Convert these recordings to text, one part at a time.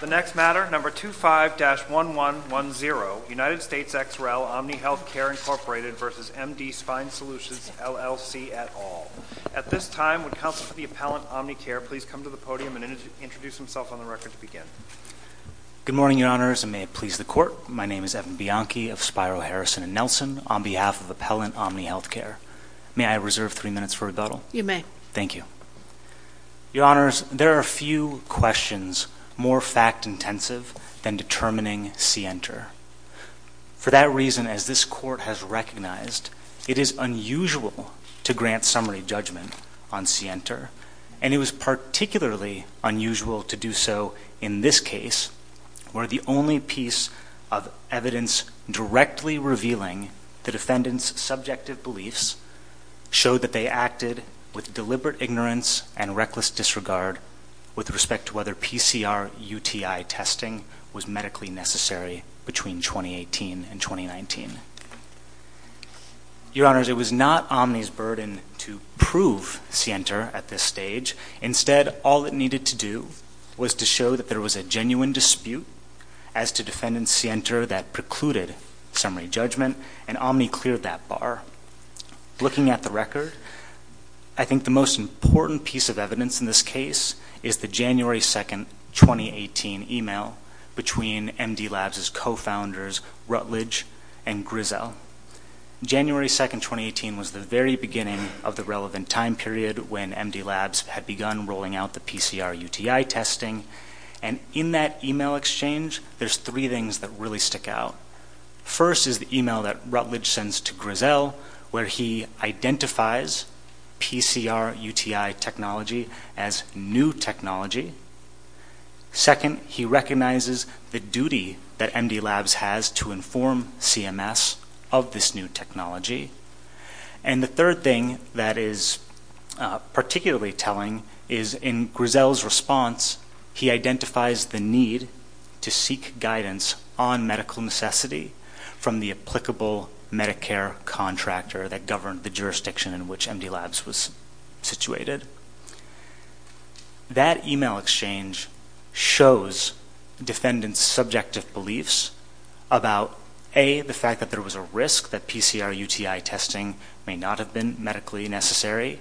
The next matter, number 25-1110, United States ex rel. Omni Healthcare Inc. v. MD Spine Solutions LLC et al. At this time, would counsel for the appellant, OmniCare, please come to the podium and introduce himself on the record to begin. Good morning, your honors, and may it please the court. My name is Evan Bianchi of Spiro, Harrison & Nelson on behalf of appellant OmniHealthcare. May I reserve three minutes for rebuttal? You may. Thank you. Your honors, there are few questions more fact-intensive than determining scienter. For that reason, as this court has recognized, it is unusual to grant summary judgment on scienter, and it was particularly unusual to do so in this case where the only piece of evidence directly revealing the defendant's subjective beliefs showed that they acted with deliberate ignorance and reckless disregard with respect to whether PCR UTI testing was medically necessary between 2018 and 2019. Your honors, it was not Omni's burden to prove scienter at this stage. Instead, all it needed to do was to show that there was a genuine dispute as to defendant scienter that precluded summary judgment, and Omni cleared that bar. Looking at the record, I think the most important piece of evidence in this case is the January 2, 2018, email between MD Labs' co-founders Rutledge and Grizel. January 2, 2018, was the very beginning of the relevant time period when MD Labs had begun rolling out the PCR UTI testing, and in that email exchange, there's three things that really stick out. First is the email that Rutledge sends to Grizel where he identifies PCR UTI technology as new technology. Second, he recognizes the duty that MD Labs has to inform CMS of this new technology. And the third thing that is particularly telling is in Grizel's response, he identifies the need to seek guidance on medical necessity from the applicable Medicare contractor that governed the jurisdiction in which MD Labs was situated. That email exchange shows defendant's subjective beliefs about, A, the fact that there was a risk that PCR UTI testing may not have been medically necessary,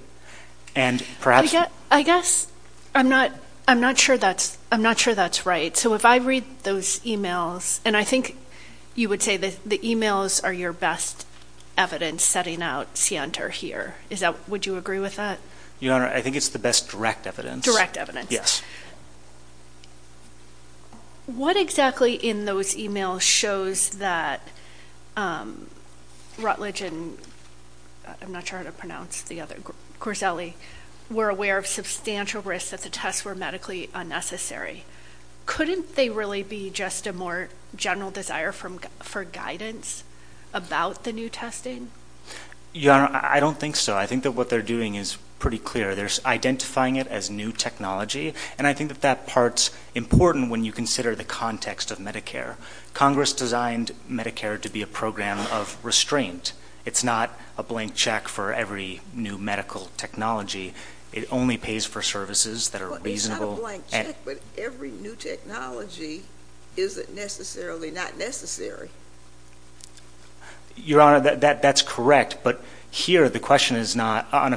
and perhaps... I guess I'm not sure that's right. So if I read those emails, and I think you would say that the emails are your best evidence setting out scienter here. Would you agree with that? Your Honor, I think it's the best direct evidence. Direct evidence. Yes. What exactly in those emails shows that Rutledge and... I'm not sure how to pronounce the other... Grizel were aware of substantial risk that the tests were medically unnecessary. Couldn't they really be just a more general desire for guidance about the new testing? Your Honor, I don't think so. I think that what they're doing is pretty clear. They're identifying it as new technology, and I think that that part's important when you consider the context of Medicare. Congress designed Medicare to be a program of restraint. It's not a blank check for every new medical technology. It only pays for services that are reasonable. Well, it's not a blank check, but every new technology isn't necessarily not necessary. Your Honor, that's correct, but here the question on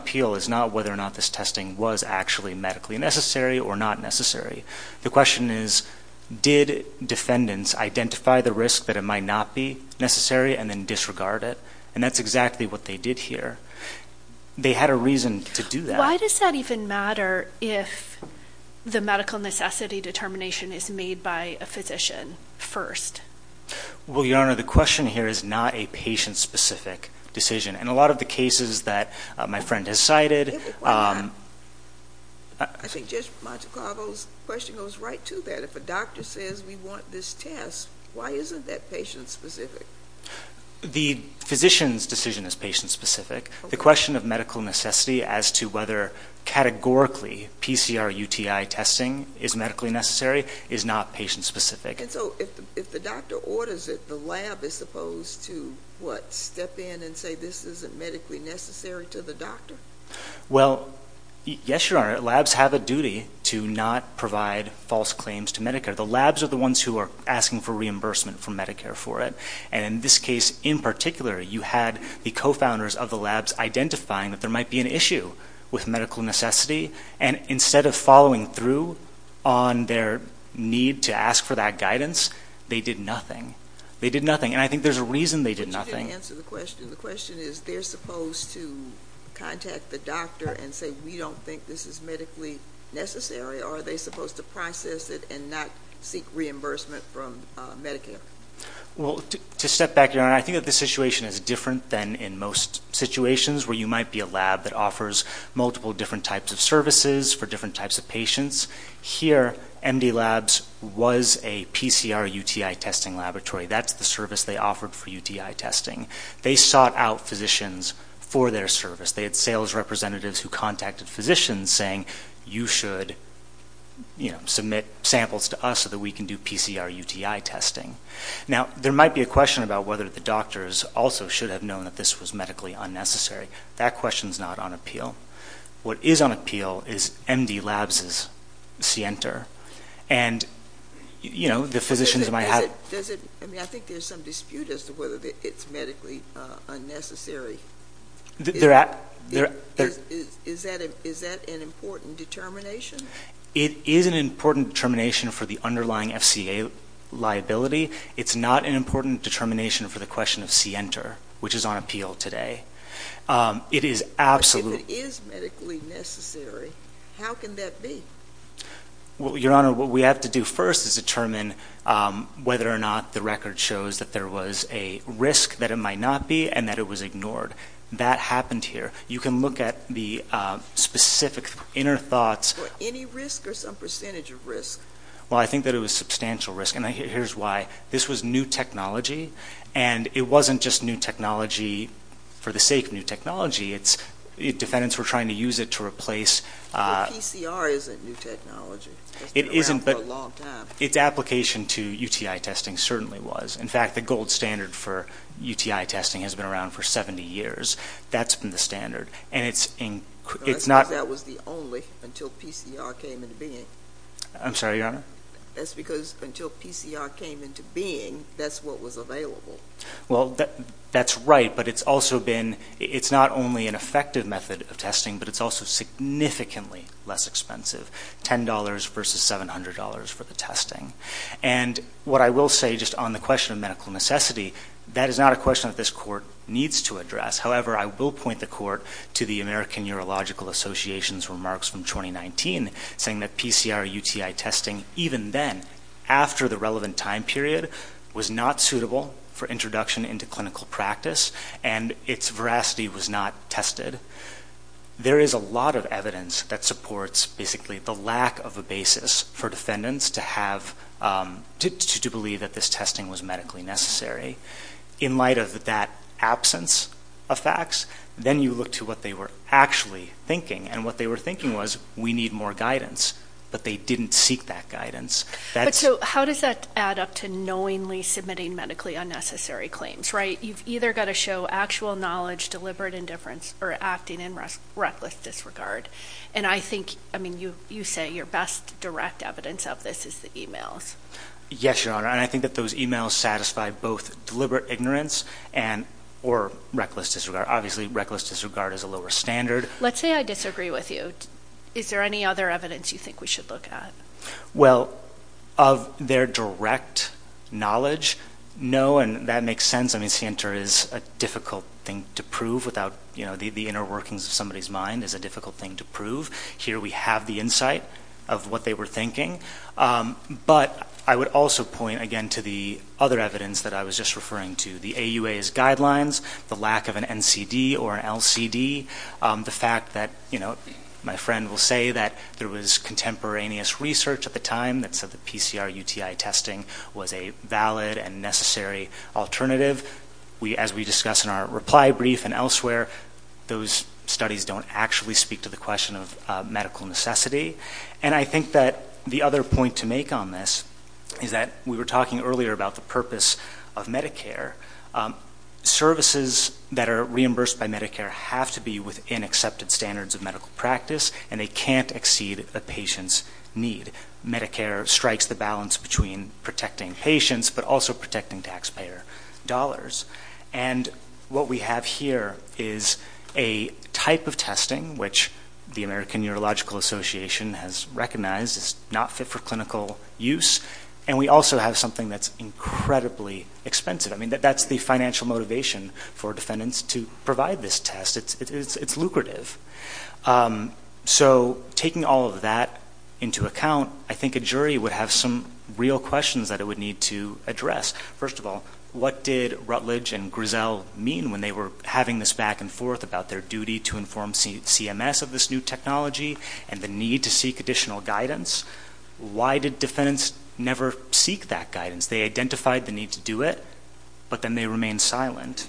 appeal is not whether or not this testing was actually medically necessary or not necessary. The question is, did defendants identify the risk that it might not be necessary and then disregard it? And that's exactly what they did here. They had a reason to do that. Why does that even matter if the medical necessity determination is made by a physician first? Well, Your Honor, the question here is not a patient-specific decision. In a lot of the cases that my friend has cited... I think Judge Montecarlo's question goes right to that. If a doctor says we want this test, why isn't that patient-specific? The physician's decision is patient-specific. The question of medical necessity as to whether categorically PCR-UTI testing is medically necessary is not patient-specific. And so if the doctor orders it, the lab is supposed to, what, step in and say this isn't medically necessary to the doctor? Well, yes, Your Honor, labs have a duty to not provide false claims to Medicare. The labs are the ones who are asking for reimbursement from Medicare for it. And in this case in particular, you had the co-founders of the labs identifying that there might be an issue with medical necessity, and instead of following through on their need to ask for that guidance, they did nothing. They did nothing, and I think there's a reason they did nothing. But you didn't answer the question. The question is they're supposed to contact the doctor and say we don't think this is medically necessary, or are they supposed to process it and not seek reimbursement from Medicare? Well, to step back, Your Honor, I think that the situation is different than in most situations where you might be a lab that offers multiple different types of services for different types of patients. Here, MD Labs was a PCR-UTI testing laboratory. That's the service they offered for UTI testing. They sought out physicians for their service. They had sales representatives who contacted physicians saying you should, you know, submit samples to us so that we can do PCR-UTI testing. Now, there might be a question about whether the doctors also should have known that this was medically unnecessary. That question is not on appeal. What is on appeal is MD Labs' scienter, and, you know, the physicians might have ‑‑ I mean, I think there's some dispute as to whether it's medically unnecessary. Is that an important determination? It is an important determination for the underlying FCA liability. It's not an important determination for the question of scienter, which is on appeal today. But if it is medically necessary, how can that be? Well, Your Honor, what we have to do first is determine whether or not the record shows that there was a risk that it might not be and that it was ignored. That happened here. You can look at the specific inner thoughts. Any risk or some percentage of risk? Well, I think that it was substantial risk, and here's why. This was new technology, and it wasn't just new technology for the sake of new technology. It's ‑‑ defendants were trying to use it to replace ‑‑ But PCR isn't new technology. It's been around for a long time. Its application to UTI testing certainly was. In fact, the gold standard for UTI testing has been around for 70 years. That's been the standard, and it's not ‑‑ That was the only until PCR came into being. I'm sorry, Your Honor? That's because until PCR came into being, that's what was available. Well, that's right, but it's also been ‑‑ it's not only an effective method of testing, but it's also significantly less expensive, $10 versus $700 for the testing. And what I will say just on the question of medical necessity, that is not a question that this court needs to address. However, I will point the court to the American Urological Association's remarks from 2019 saying that PCR UTI testing, even then, after the relevant time period, was not suitable for introduction into clinical practice, and its veracity was not tested. There is a lot of evidence that supports basically the lack of a basis for defendants to believe that this testing was medically necessary. In light of that absence of facts, then you look to what they were actually thinking, and what they were thinking was we need more guidance, but they didn't seek that guidance. So how does that add up to knowingly submitting medically unnecessary claims, right? You've either got to show actual knowledge, deliberate indifference, or acting in reckless disregard. And I think, I mean, you say your best direct evidence of this is the e-mails. Yes, Your Honor, and I think that those e-mails satisfy both deliberate ignorance or reckless disregard. Obviously, reckless disregard is a lower standard. Let's say I disagree with you. Is there any other evidence you think we should look at? Well, of their direct knowledge, no, and that makes sense. I mean, CENTER is a difficult thing to prove without, you know, the inner workings of somebody's mind is a difficult thing to prove. Here we have the insight of what they were thinking. But I would also point, again, to the other evidence that I was just referring to, the AUA's guidelines, the lack of an NCD or an LCD, the fact that, you know, my friend will say that there was contemporaneous research at the time that said that PCR UTI testing was a valid and necessary alternative. As we discuss in our reply brief and elsewhere, those studies don't actually speak to the question of medical necessity. And I think that the other point to make on this is that we were talking earlier about the purpose of Medicare. Services that are reimbursed by Medicare have to be within accepted standards of medical practice, and they can't exceed a patient's need. Medicare strikes the balance between protecting patients but also protecting taxpayer dollars. And what we have here is a type of testing which the American Neurological Association has recognized is not fit for clinical use, and we also have something that's incredibly expensive. I mean, that's the financial motivation for defendants to provide this test. It's lucrative. So taking all of that into account, I think a jury would have some real questions that it would need to address. First of all, what did Rutledge and Grizzell mean when they were having this back and forth about their duty to inform CMS of this new technology and the need to seek additional guidance? Why did defendants never seek that guidance? They identified the need to do it, but then they remained silent.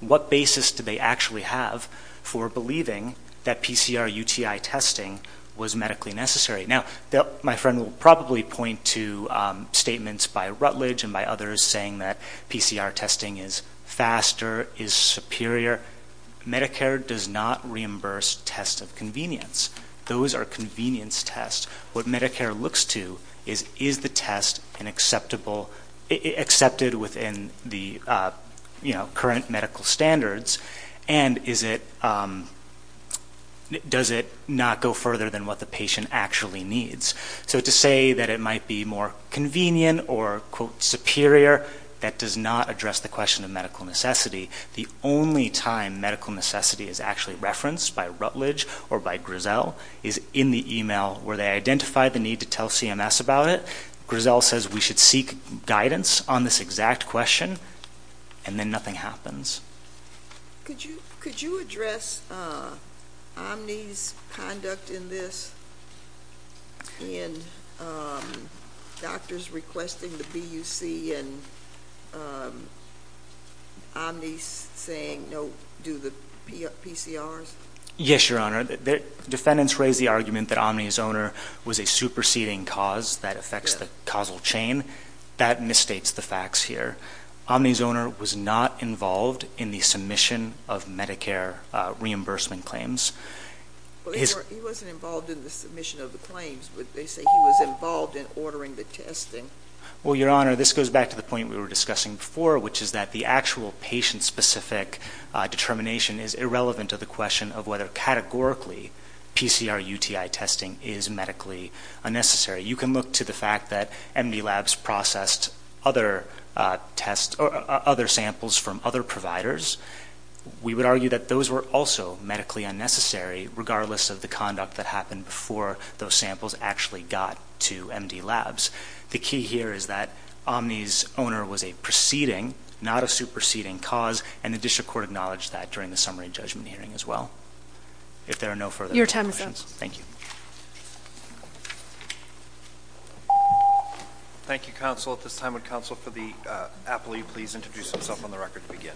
What basis do they actually have for believing that PCR UTI testing was medically necessary? Now, my friend will probably point to statements by Rutledge and by others saying that PCR testing is faster, is superior. Medicare does not reimburse tests of convenience. Those are convenience tests. What Medicare looks to is, is the test accepted within the current medical standards, and does it not go further than what the patient actually needs? So to say that it might be more convenient or, quote, superior, that does not address the question of medical necessity. The only time medical necessity is actually referenced by Rutledge or by Grizzell is in the email where they identify the need to tell CMS about it. Grizzell says we should seek guidance on this exact question, and then nothing happens. Could you address Omni's conduct in this and doctors requesting the BUC and Omni's saying no, do the PCRs? Yes, Your Honor. Defendants raised the argument that Omni's owner was a superseding cause that affects the causal chain. That misstates the facts here. Omni's owner was not involved in the submission of Medicare reimbursement claims. He wasn't involved in the submission of the claims, but they say he was involved in ordering the testing. Well, Your Honor, this goes back to the point we were discussing before, which is that the actual patient-specific determination is irrelevant to the question of whether categorically PCR UTI testing is medically unnecessary. You can look to the fact that MD Labs processed other tests or other samples from other providers. We would argue that those were also medically unnecessary, regardless of the conduct that happened before those samples actually got to MD Labs. The key here is that Omni's owner was a preceding, not a superseding cause, and the district court acknowledged that during the summary judgment hearing as well. If there are no further questions. Thank you. Thank you, counsel. At this time, would counsel for the appellee please introduce himself on the record to begin?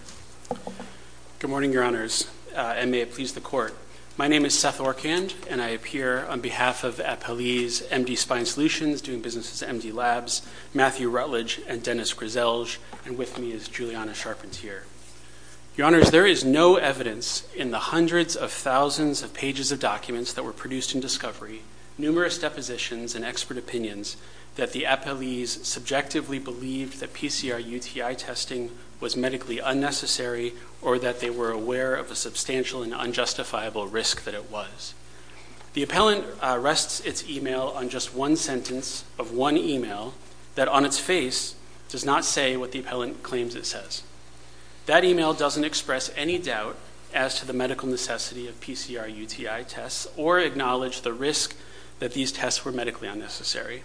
Good morning, Your Honors, and may it please the court. My name is Seth Orkand, and I appear on behalf of the appellee's MD Spine Solutions, doing businesses at MD Labs, Matthew Rutledge, and Dennis Griselge. And with me is Juliana Sharpentier. Your Honors, there is no evidence in the hundreds of thousands of pages of documents that were produced in discovery, numerous depositions, and expert opinions that the appellees subjectively believed that PCR UTI testing was medically unnecessary or that they were aware of the substantial and unjustifiable risk that it was. The appellant rests its email on just one sentence of one email that, on its face, does not say what the appellant claims it says. That email doesn't express any doubt as to the medical necessity of PCR UTI tests or acknowledge the risk that these tests were medically unnecessary.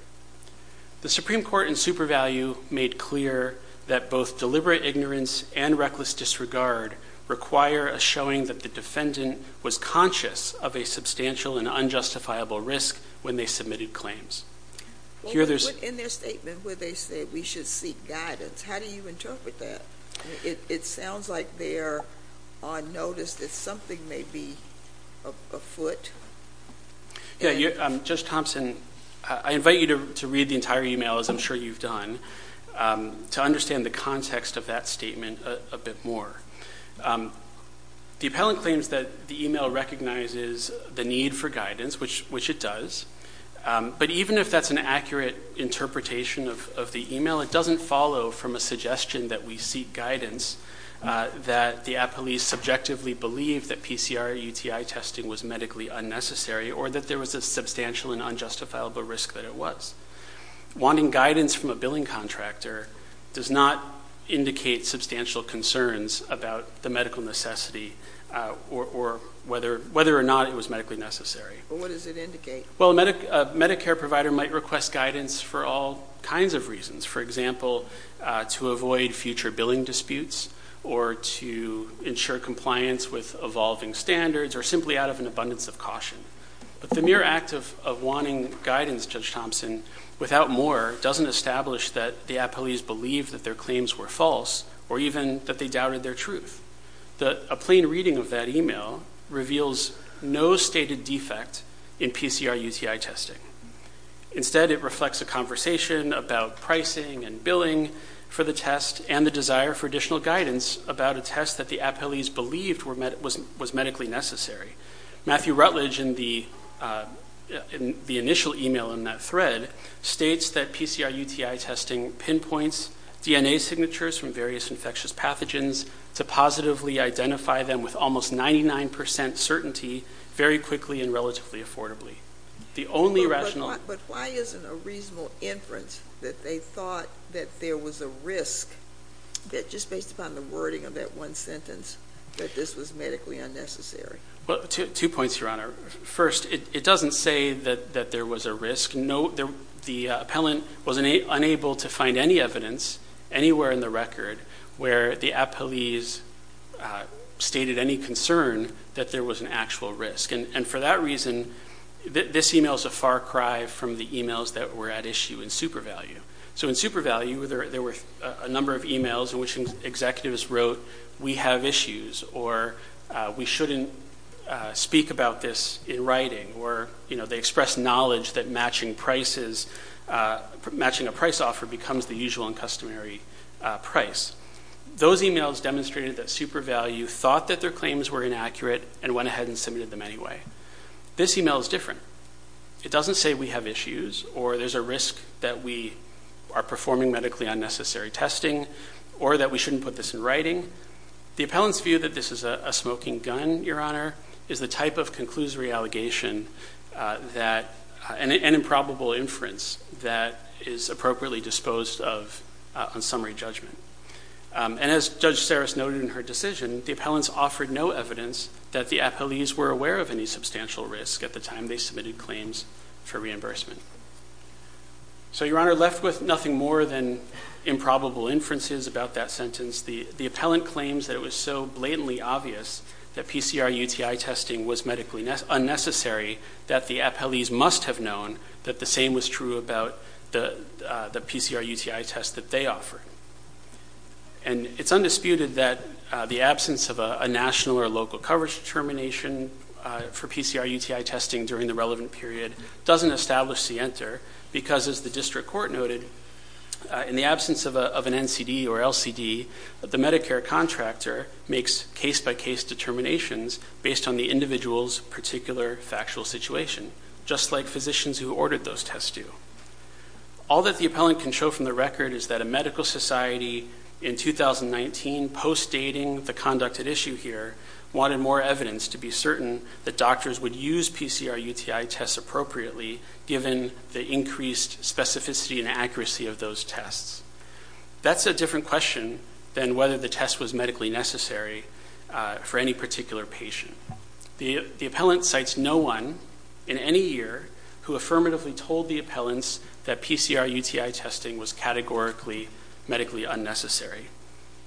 The Supreme Court in super value made clear that both deliberate ignorance and reckless disregard require a showing that the defendant was conscious of a substantial and unjustifiable risk when they submitted claims. In their statement where they say we should seek guidance, how do you interpret that? It sounds like they're on notice that something may be afoot. Yeah, Judge Thompson, I invite you to read the entire email, as I'm sure you've done, to understand the context of that statement a bit more. The appellant claims that the email recognizes the need for guidance, which it does, but even if that's an accurate interpretation of the email, it doesn't follow from a suggestion that we seek guidance, that the appellees subjectively believed that PCR UTI testing was medically unnecessary or that there was a substantial and unjustifiable risk that it was. Wanting guidance from a billing contractor does not indicate substantial concerns about the medical necessity or whether or not it was medically necessary. What does it indicate? Well, a Medicare provider might request guidance for all kinds of reasons, for example, to avoid future billing disputes or to ensure compliance with evolving standards or simply out of an abundance of caution. But the mere act of wanting guidance, Judge Thompson, without more, doesn't establish that the appellees believed that their claims were false or even that they doubted their truth. A plain reading of that email reveals no stated defect in PCR UTI testing. Instead, it reflects a conversation about pricing and billing for the test and the desire for additional guidance about a test that the appellees believed was medically necessary. Matthew Rutledge, in the initial email in that thread, states that PCR UTI testing pinpoints DNA signatures from various infectious pathogens to positively identify them with almost 99 percent certainty very quickly and relatively affordably. But why isn't a reasonable inference that they thought that there was a risk, just based upon the wording of that one sentence, that this was medically unnecessary? Two points, Your Honor. First, it doesn't say that there was a risk. The appellant was unable to find any evidence anywhere in the record where the appellees stated any concern that there was an actual risk. And for that reason, this email is a far cry from the emails that were at issue in SuperValue. So in SuperValue, there were a number of emails in which executives wrote, we have issues, or we shouldn't speak about this in writing, or they expressed knowledge that matching a price offer becomes the usual and customary price. Those emails demonstrated that SuperValue thought that their claims were inaccurate and went ahead and submitted them anyway. This email is different. It doesn't say we have issues or there's a risk that we are performing medically unnecessary testing or that we shouldn't put this in writing. The appellant's view that this is a smoking gun, Your Honor, is the type of conclusory allegation and improbable inference that is appropriately disposed of on summary judgment. And as Judge Saris noted in her decision, the appellants offered no evidence that the appellees were aware of any substantial risk at the time they submitted claims for reimbursement. So, Your Honor, left with nothing more than improbable inferences about that sentence, the appellant claims that it was so blatantly obvious that PCR UTI testing was medically unnecessary that the appellees must have known that the same was true about the PCR UTI test that they offered. And it's undisputed that the absence of a national or local coverage determination for PCR UTI testing during the relevant period doesn't establish the enter because, as the district court noted, in the absence of an NCD or LCD, the Medicare contractor makes case-by-case determinations based on the individual's particular factual situation, just like physicians who ordered those tests do. All that the appellant can show from the record is that a medical society in 2019, post-dating the conducted issue here, wanted more evidence to be certain that doctors would use PCR UTI tests appropriately, given the increased specificity and accuracy of those tests. That's a different question than whether the test was medically necessary for any particular patient. The appellant cites no one in any year who affirmatively told the appellants that PCR UTI testing was categorically medically unnecessary.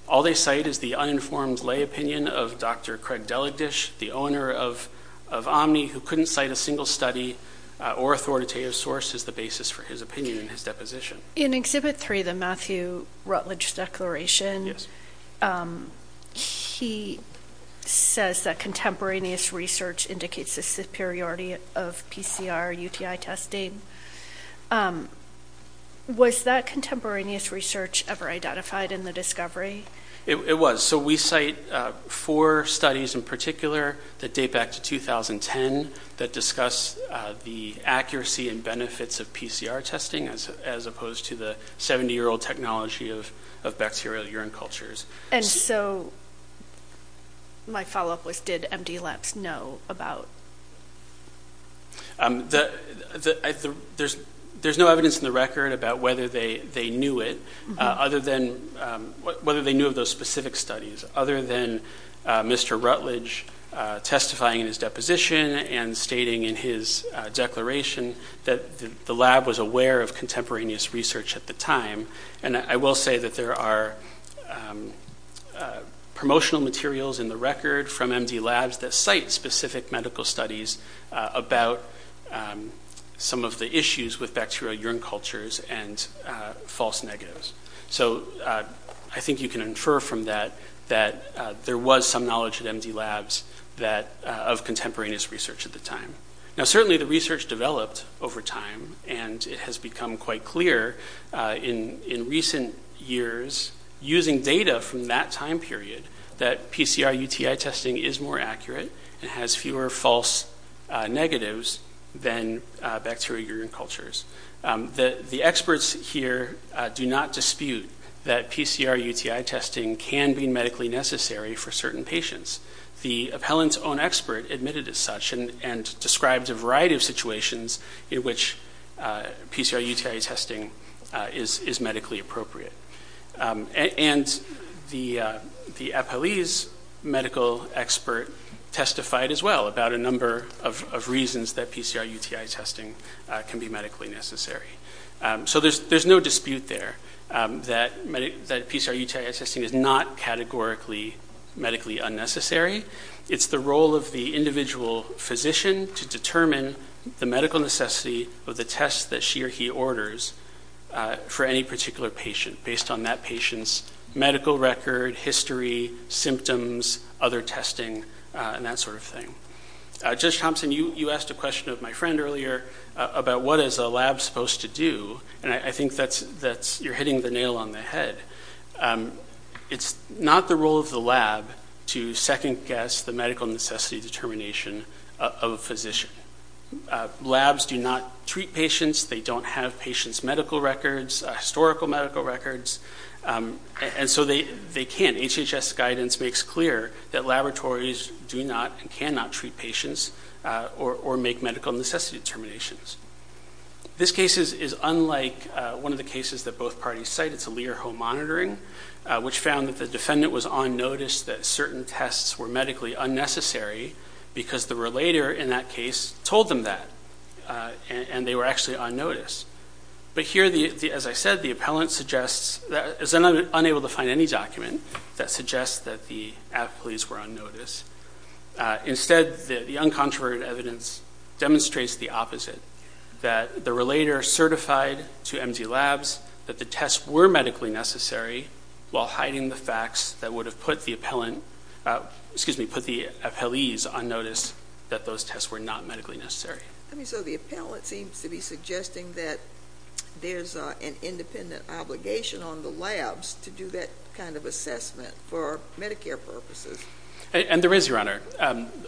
All they cite is the uninformed lay opinion of Dr. Craig Deligdish, the owner of Omni, who couldn't cite a single study or authoritative source as the basis for his opinion in his deposition. In Exhibit 3, the Matthew Rutledge Declaration, he says that contemporaneous research indicates the superiority of PCR UTI testing. Was that contemporaneous research ever identified in the discovery? It was. So we cite four studies in particular that date back to 2010 that discuss the accuracy and benefits of PCR testing, as opposed to the 70-year-old technology of bacterial urine cultures. And so my follow-up was, did MD labs know about? There's no evidence in the record about whether they knew it, other than whether they knew of those specific studies, other than Mr. Rutledge testifying in his deposition and stating in his declaration that the lab was aware of contemporaneous research at the time. And I will say that there are promotional materials in the record from MD labs that cite specific medical studies about some of the issues with bacterial urine cultures and false negatives. So I think you can infer from that that there was some knowledge at MD labs of contemporaneous research at the time. Now, certainly the research developed over time, and it has become quite clear in recent years, using data from that time period, that PCR UTI testing is more accurate and has fewer false negatives than bacterial urine cultures. The experts here do not dispute that PCR UTI testing can be medically necessary for certain patients. The appellant's own expert admitted as such and described a variety of situations in which PCR UTI testing is medically appropriate. And the appellee's medical expert testified as well about a number of reasons that PCR UTI testing can be medically necessary. So there's no dispute there that PCR UTI testing is not categorically medically unnecessary. It's the role of the individual physician to determine the medical necessity of the tests that she or he orders for any particular patient, based on that patient's medical record, history, symptoms, other testing, and that sort of thing. Judge Thompson, you asked a question of my friend earlier about what is a lab supposed to do. And I think that you're hitting the nail on the head. It's not the role of the lab to second-guess the medical necessity determination of a physician. Labs do not treat patients. They don't have patients' medical records, historical medical records. And so they can't. HHS guidance makes clear that laboratories do not and cannot treat patients or make medical necessity determinations. This case is unlike one of the cases that both parties cite. It's a Lear-Ho monitoring, which found that the defendant was on notice that certain tests were medically unnecessary because the relator in that case told them that, and they were actually on notice. But here, as I said, the appellant is unable to find any document that suggests that the appellees were on notice. Instead, the uncontroverted evidence demonstrates the opposite, that the relator certified to MD labs that the tests were medically necessary while hiding the facts that would have put the appellees on notice that those tests were not medically necessary. So the appellant seems to be suggesting that there's an independent obligation on the labs to do that kind of assessment for Medicare purposes. And there is, Your Honor.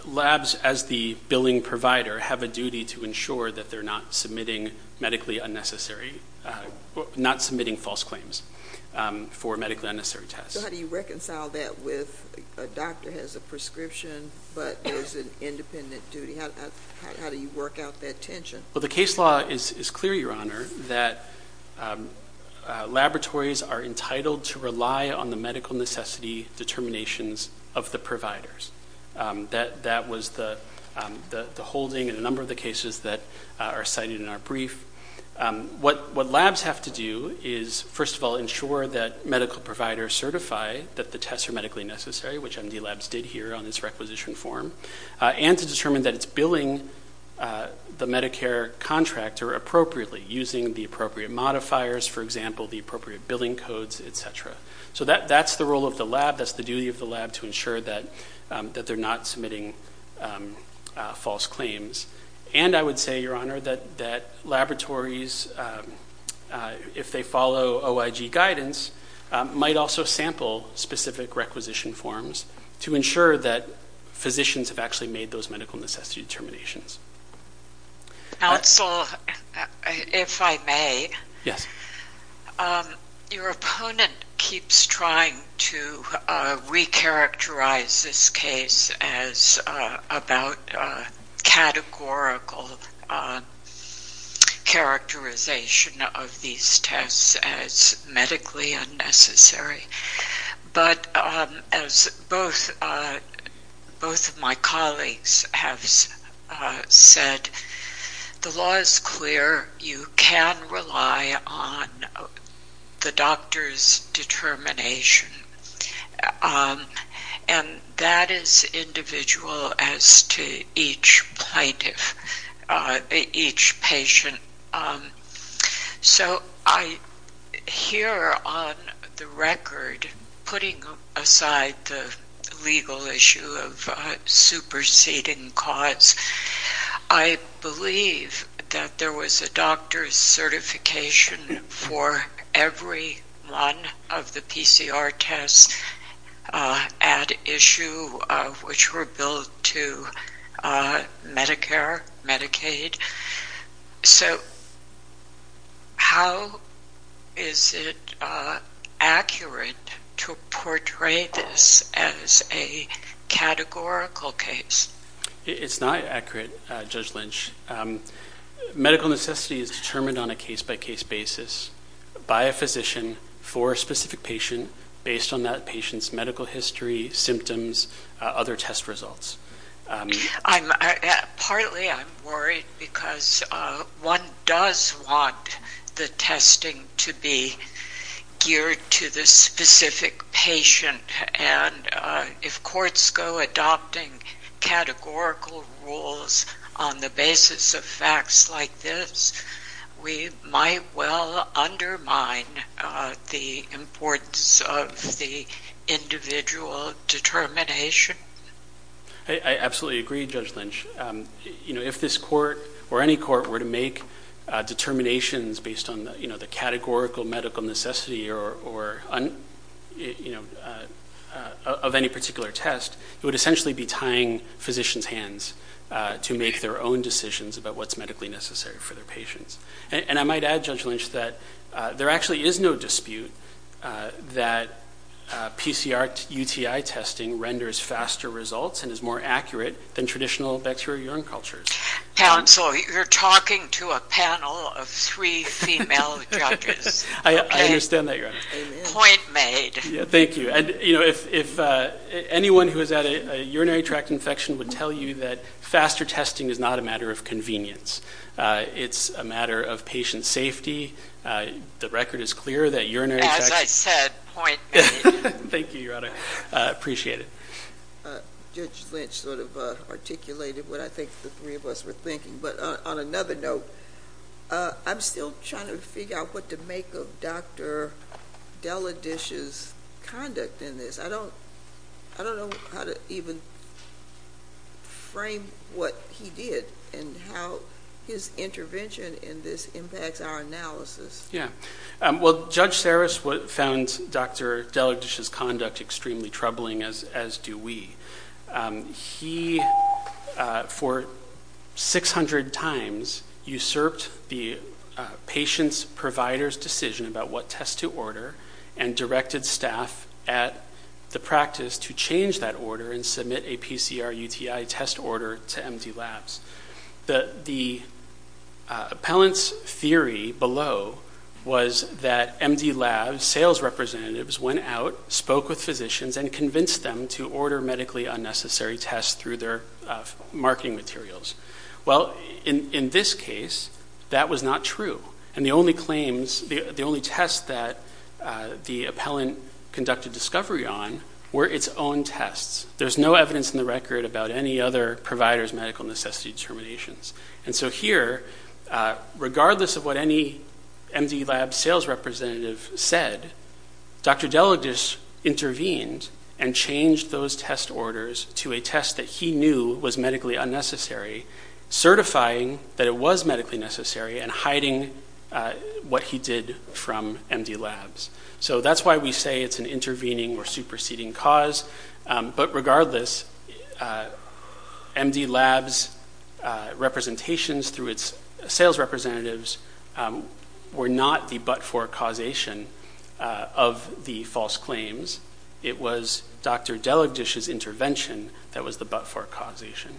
Labs, as the billing provider, have a duty to ensure that they're not submitting medically unnecessary, not submitting false claims for medically unnecessary tests. So how do you reconcile that with a doctor has a prescription but there's an independent duty? How do you work out that tension? Well, the case law is clear, Your Honor, that laboratories are entitled to rely on the medical necessity determinations of the providers. That was the holding in a number of the cases that are cited in our brief. What labs have to do is, first of all, ensure that medical providers certify that the tests are medically necessary, which MD labs did here on this requisition form, and to determine that it's billing the Medicare contractor appropriately, using the appropriate modifiers, for example, the appropriate billing codes, et cetera. So that's the role of the lab. That's the duty of the lab to ensure that they're not submitting false claims. And I would say, Your Honor, that laboratories, if they follow OIG guidance, might also sample specific requisition forms to ensure that physicians have actually made those medical necessity determinations. Counsel, if I may. Yes. Your opponent keeps trying to recharacterize this case as about categorical characterization of these tests as medically unnecessary. But as both of my colleagues have said, the law is clear. You can rely on the doctor's determination. And that is individual as to each patient. So I hear on the record, putting aside the legal issue of superseding cause, I believe that there was a doctor's certification for every one of the PCR tests at issue, which were billed to Medicare, Medicaid. So how is it accurate to portray this as a categorical case? It's not accurate, Judge Lynch. Medical necessity is determined on a case-by-case basis by a physician for a specific patient, based on that patient's medical history, symptoms, other test results. Partly I'm worried because one does want the testing to be geared to the specific patient. And if courts go adopting categorical rules on the basis of facts like this, we might well undermine the importance of the individual determination. I absolutely agree, Judge Lynch. If this court or any court were to make determinations based on the categorical medical necessity of any particular test, it would essentially be tying physicians' hands to make their own decisions about what's medically necessary for their patients. And I might add, Judge Lynch, that there actually is no dispute that PCR UTI testing renders faster results and is more accurate than traditional bacterial urine cultures. Counsel, you're talking to a panel of three female judges. I understand that, Your Honor. Point made. Thank you. And, you know, if anyone who has had a urinary tract infection would tell you that faster testing is not a matter of convenience. It's a matter of patient safety. The record is clear that urinary tract infection. As I said, point made. Thank you, Your Honor. Appreciate it. Judge Lynch sort of articulated what I think the three of us were thinking. But on another note, I'm still trying to figure out what to make of Dr. Deladish's conduct in this. I don't know how to even frame what he did and how his intervention in this impacts our analysis. Yeah. Well, Judge Saris found Dr. Deladish's conduct extremely troubling, as do we. He, for 600 times, usurped the patient's provider's decision about what test to order and directed staff at the practice to change that order and submit a PCR UTI test order to MD Labs. The appellant's theory below was that MD Labs sales representatives went out, spoke with physicians, and convinced them to order medically unnecessary tests through their marketing materials. Well, in this case, that was not true. And the only claims, the only tests that the appellant conducted discovery on were its own tests. There's no evidence in the record about any other provider's medical necessity determinations. And so here, regardless of what any MD Lab sales representative said, Dr. Deladish intervened and changed those test orders to a test that he knew was medically unnecessary, certifying that it was medically necessary and hiding what he did from MD Labs. So that's why we say it's an intervening or superseding cause. But regardless, MD Labs' representations through its sales representatives were not the but-for causation of the false claims. It was Dr. Deladish's intervention that was the but-for causation.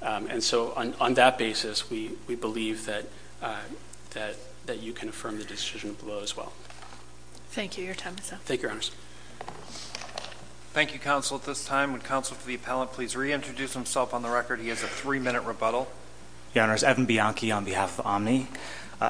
And so on that basis, we believe that you can affirm the decision below as well. Thank you. Your time is up. Thank you, Your Honors. Thank you, Counsel. At this time, would Counsel to the appellant please reintroduce himself on the record? He has a three-minute rebuttal. Your Honors, Evan Bianchi on behalf of Omni.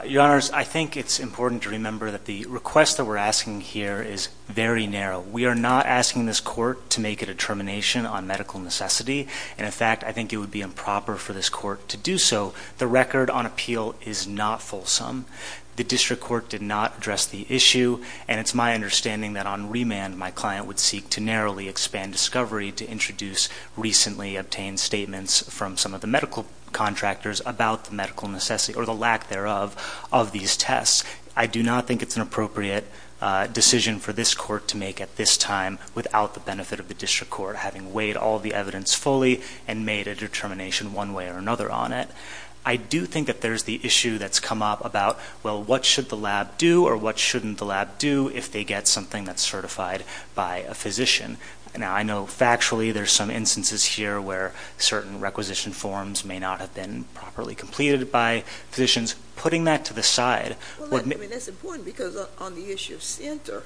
Your Honors, I think it's important to remember that the request that we're asking here is very narrow. We are not asking this court to make a determination on medical necessity. And, in fact, I think it would be improper for this court to do so. The record on appeal is not fulsome. The district court did not address the issue. And it's my understanding that on remand, my client would seek to narrowly expand discovery to introduce recently obtained statements from some of the medical contractors about the medical necessity or the lack thereof of these tests. I do not think it's an appropriate decision for this court to make at this time without the benefit of the district court having weighed all the evidence fully and made a determination one way or another on it. I do think that there's the issue that's come up about, well, what should the lab do or what shouldn't the lab do if they get something that's certified by a physician? Now, I know factually there's some instances here where certain requisition forms may not have been properly completed by physicians. Putting that to the side. Well, I mean, that's important because on the issue of Sienter,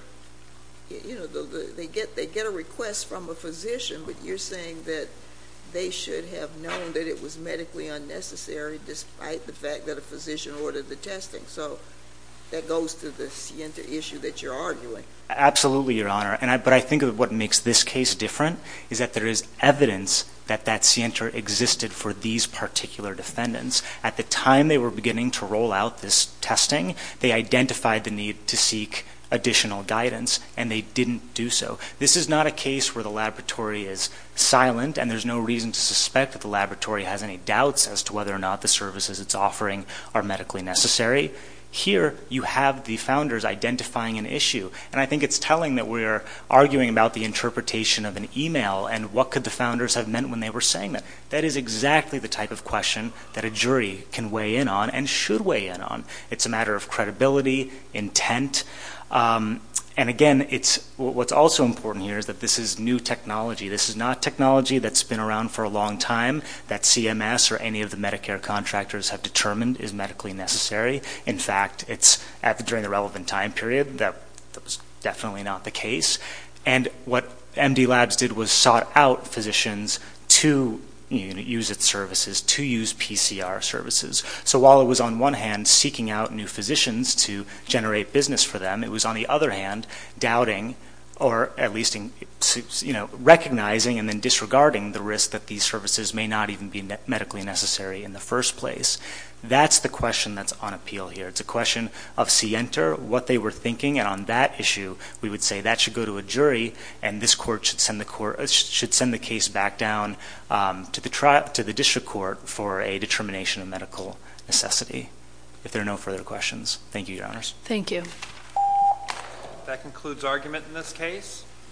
you know, they get a request from a physician. But you're saying that they should have known that it was medically unnecessary despite the fact that a physician ordered the testing. So that goes to the Sienter issue that you're arguing. Absolutely, Your Honor. But I think what makes this case different is that there is evidence that that Sienter existed for these particular defendants. At the time they were beginning to roll out this testing, they identified the need to seek additional guidance, and they didn't do so. This is not a case where the laboratory is silent and there's no reason to suspect that the laboratory has any doubts as to whether or not the services it's offering are medically necessary. Here you have the founders identifying an issue. And I think it's telling that we're arguing about the interpretation of an email and what could the founders have meant when they were saying it. That is exactly the type of question that a jury can weigh in on and should weigh in on. It's a matter of credibility, intent. And again, what's also important here is that this is new technology. This is not technology that's been around for a long time that CMS or any of the Medicare contractors have determined is medically necessary. In fact, it's during the relevant time period that that was definitely not the case. And what MD Labs did was sought out physicians to use its services, to use PCR services. So while it was on one hand seeking out new physicians to generate business for them, it was on the other hand doubting or at least recognizing and then disregarding the risk that these services may not even be medically necessary in the first place. That's the question that's on appeal here. It's a question of scienter, what they were thinking. And on that issue, we would say that should go to a jury and this court should send the case back down to the district court for a determination of medical necessity. If there are no further questions. Thank you, Your Honors. Thank you. That concludes argument in this case.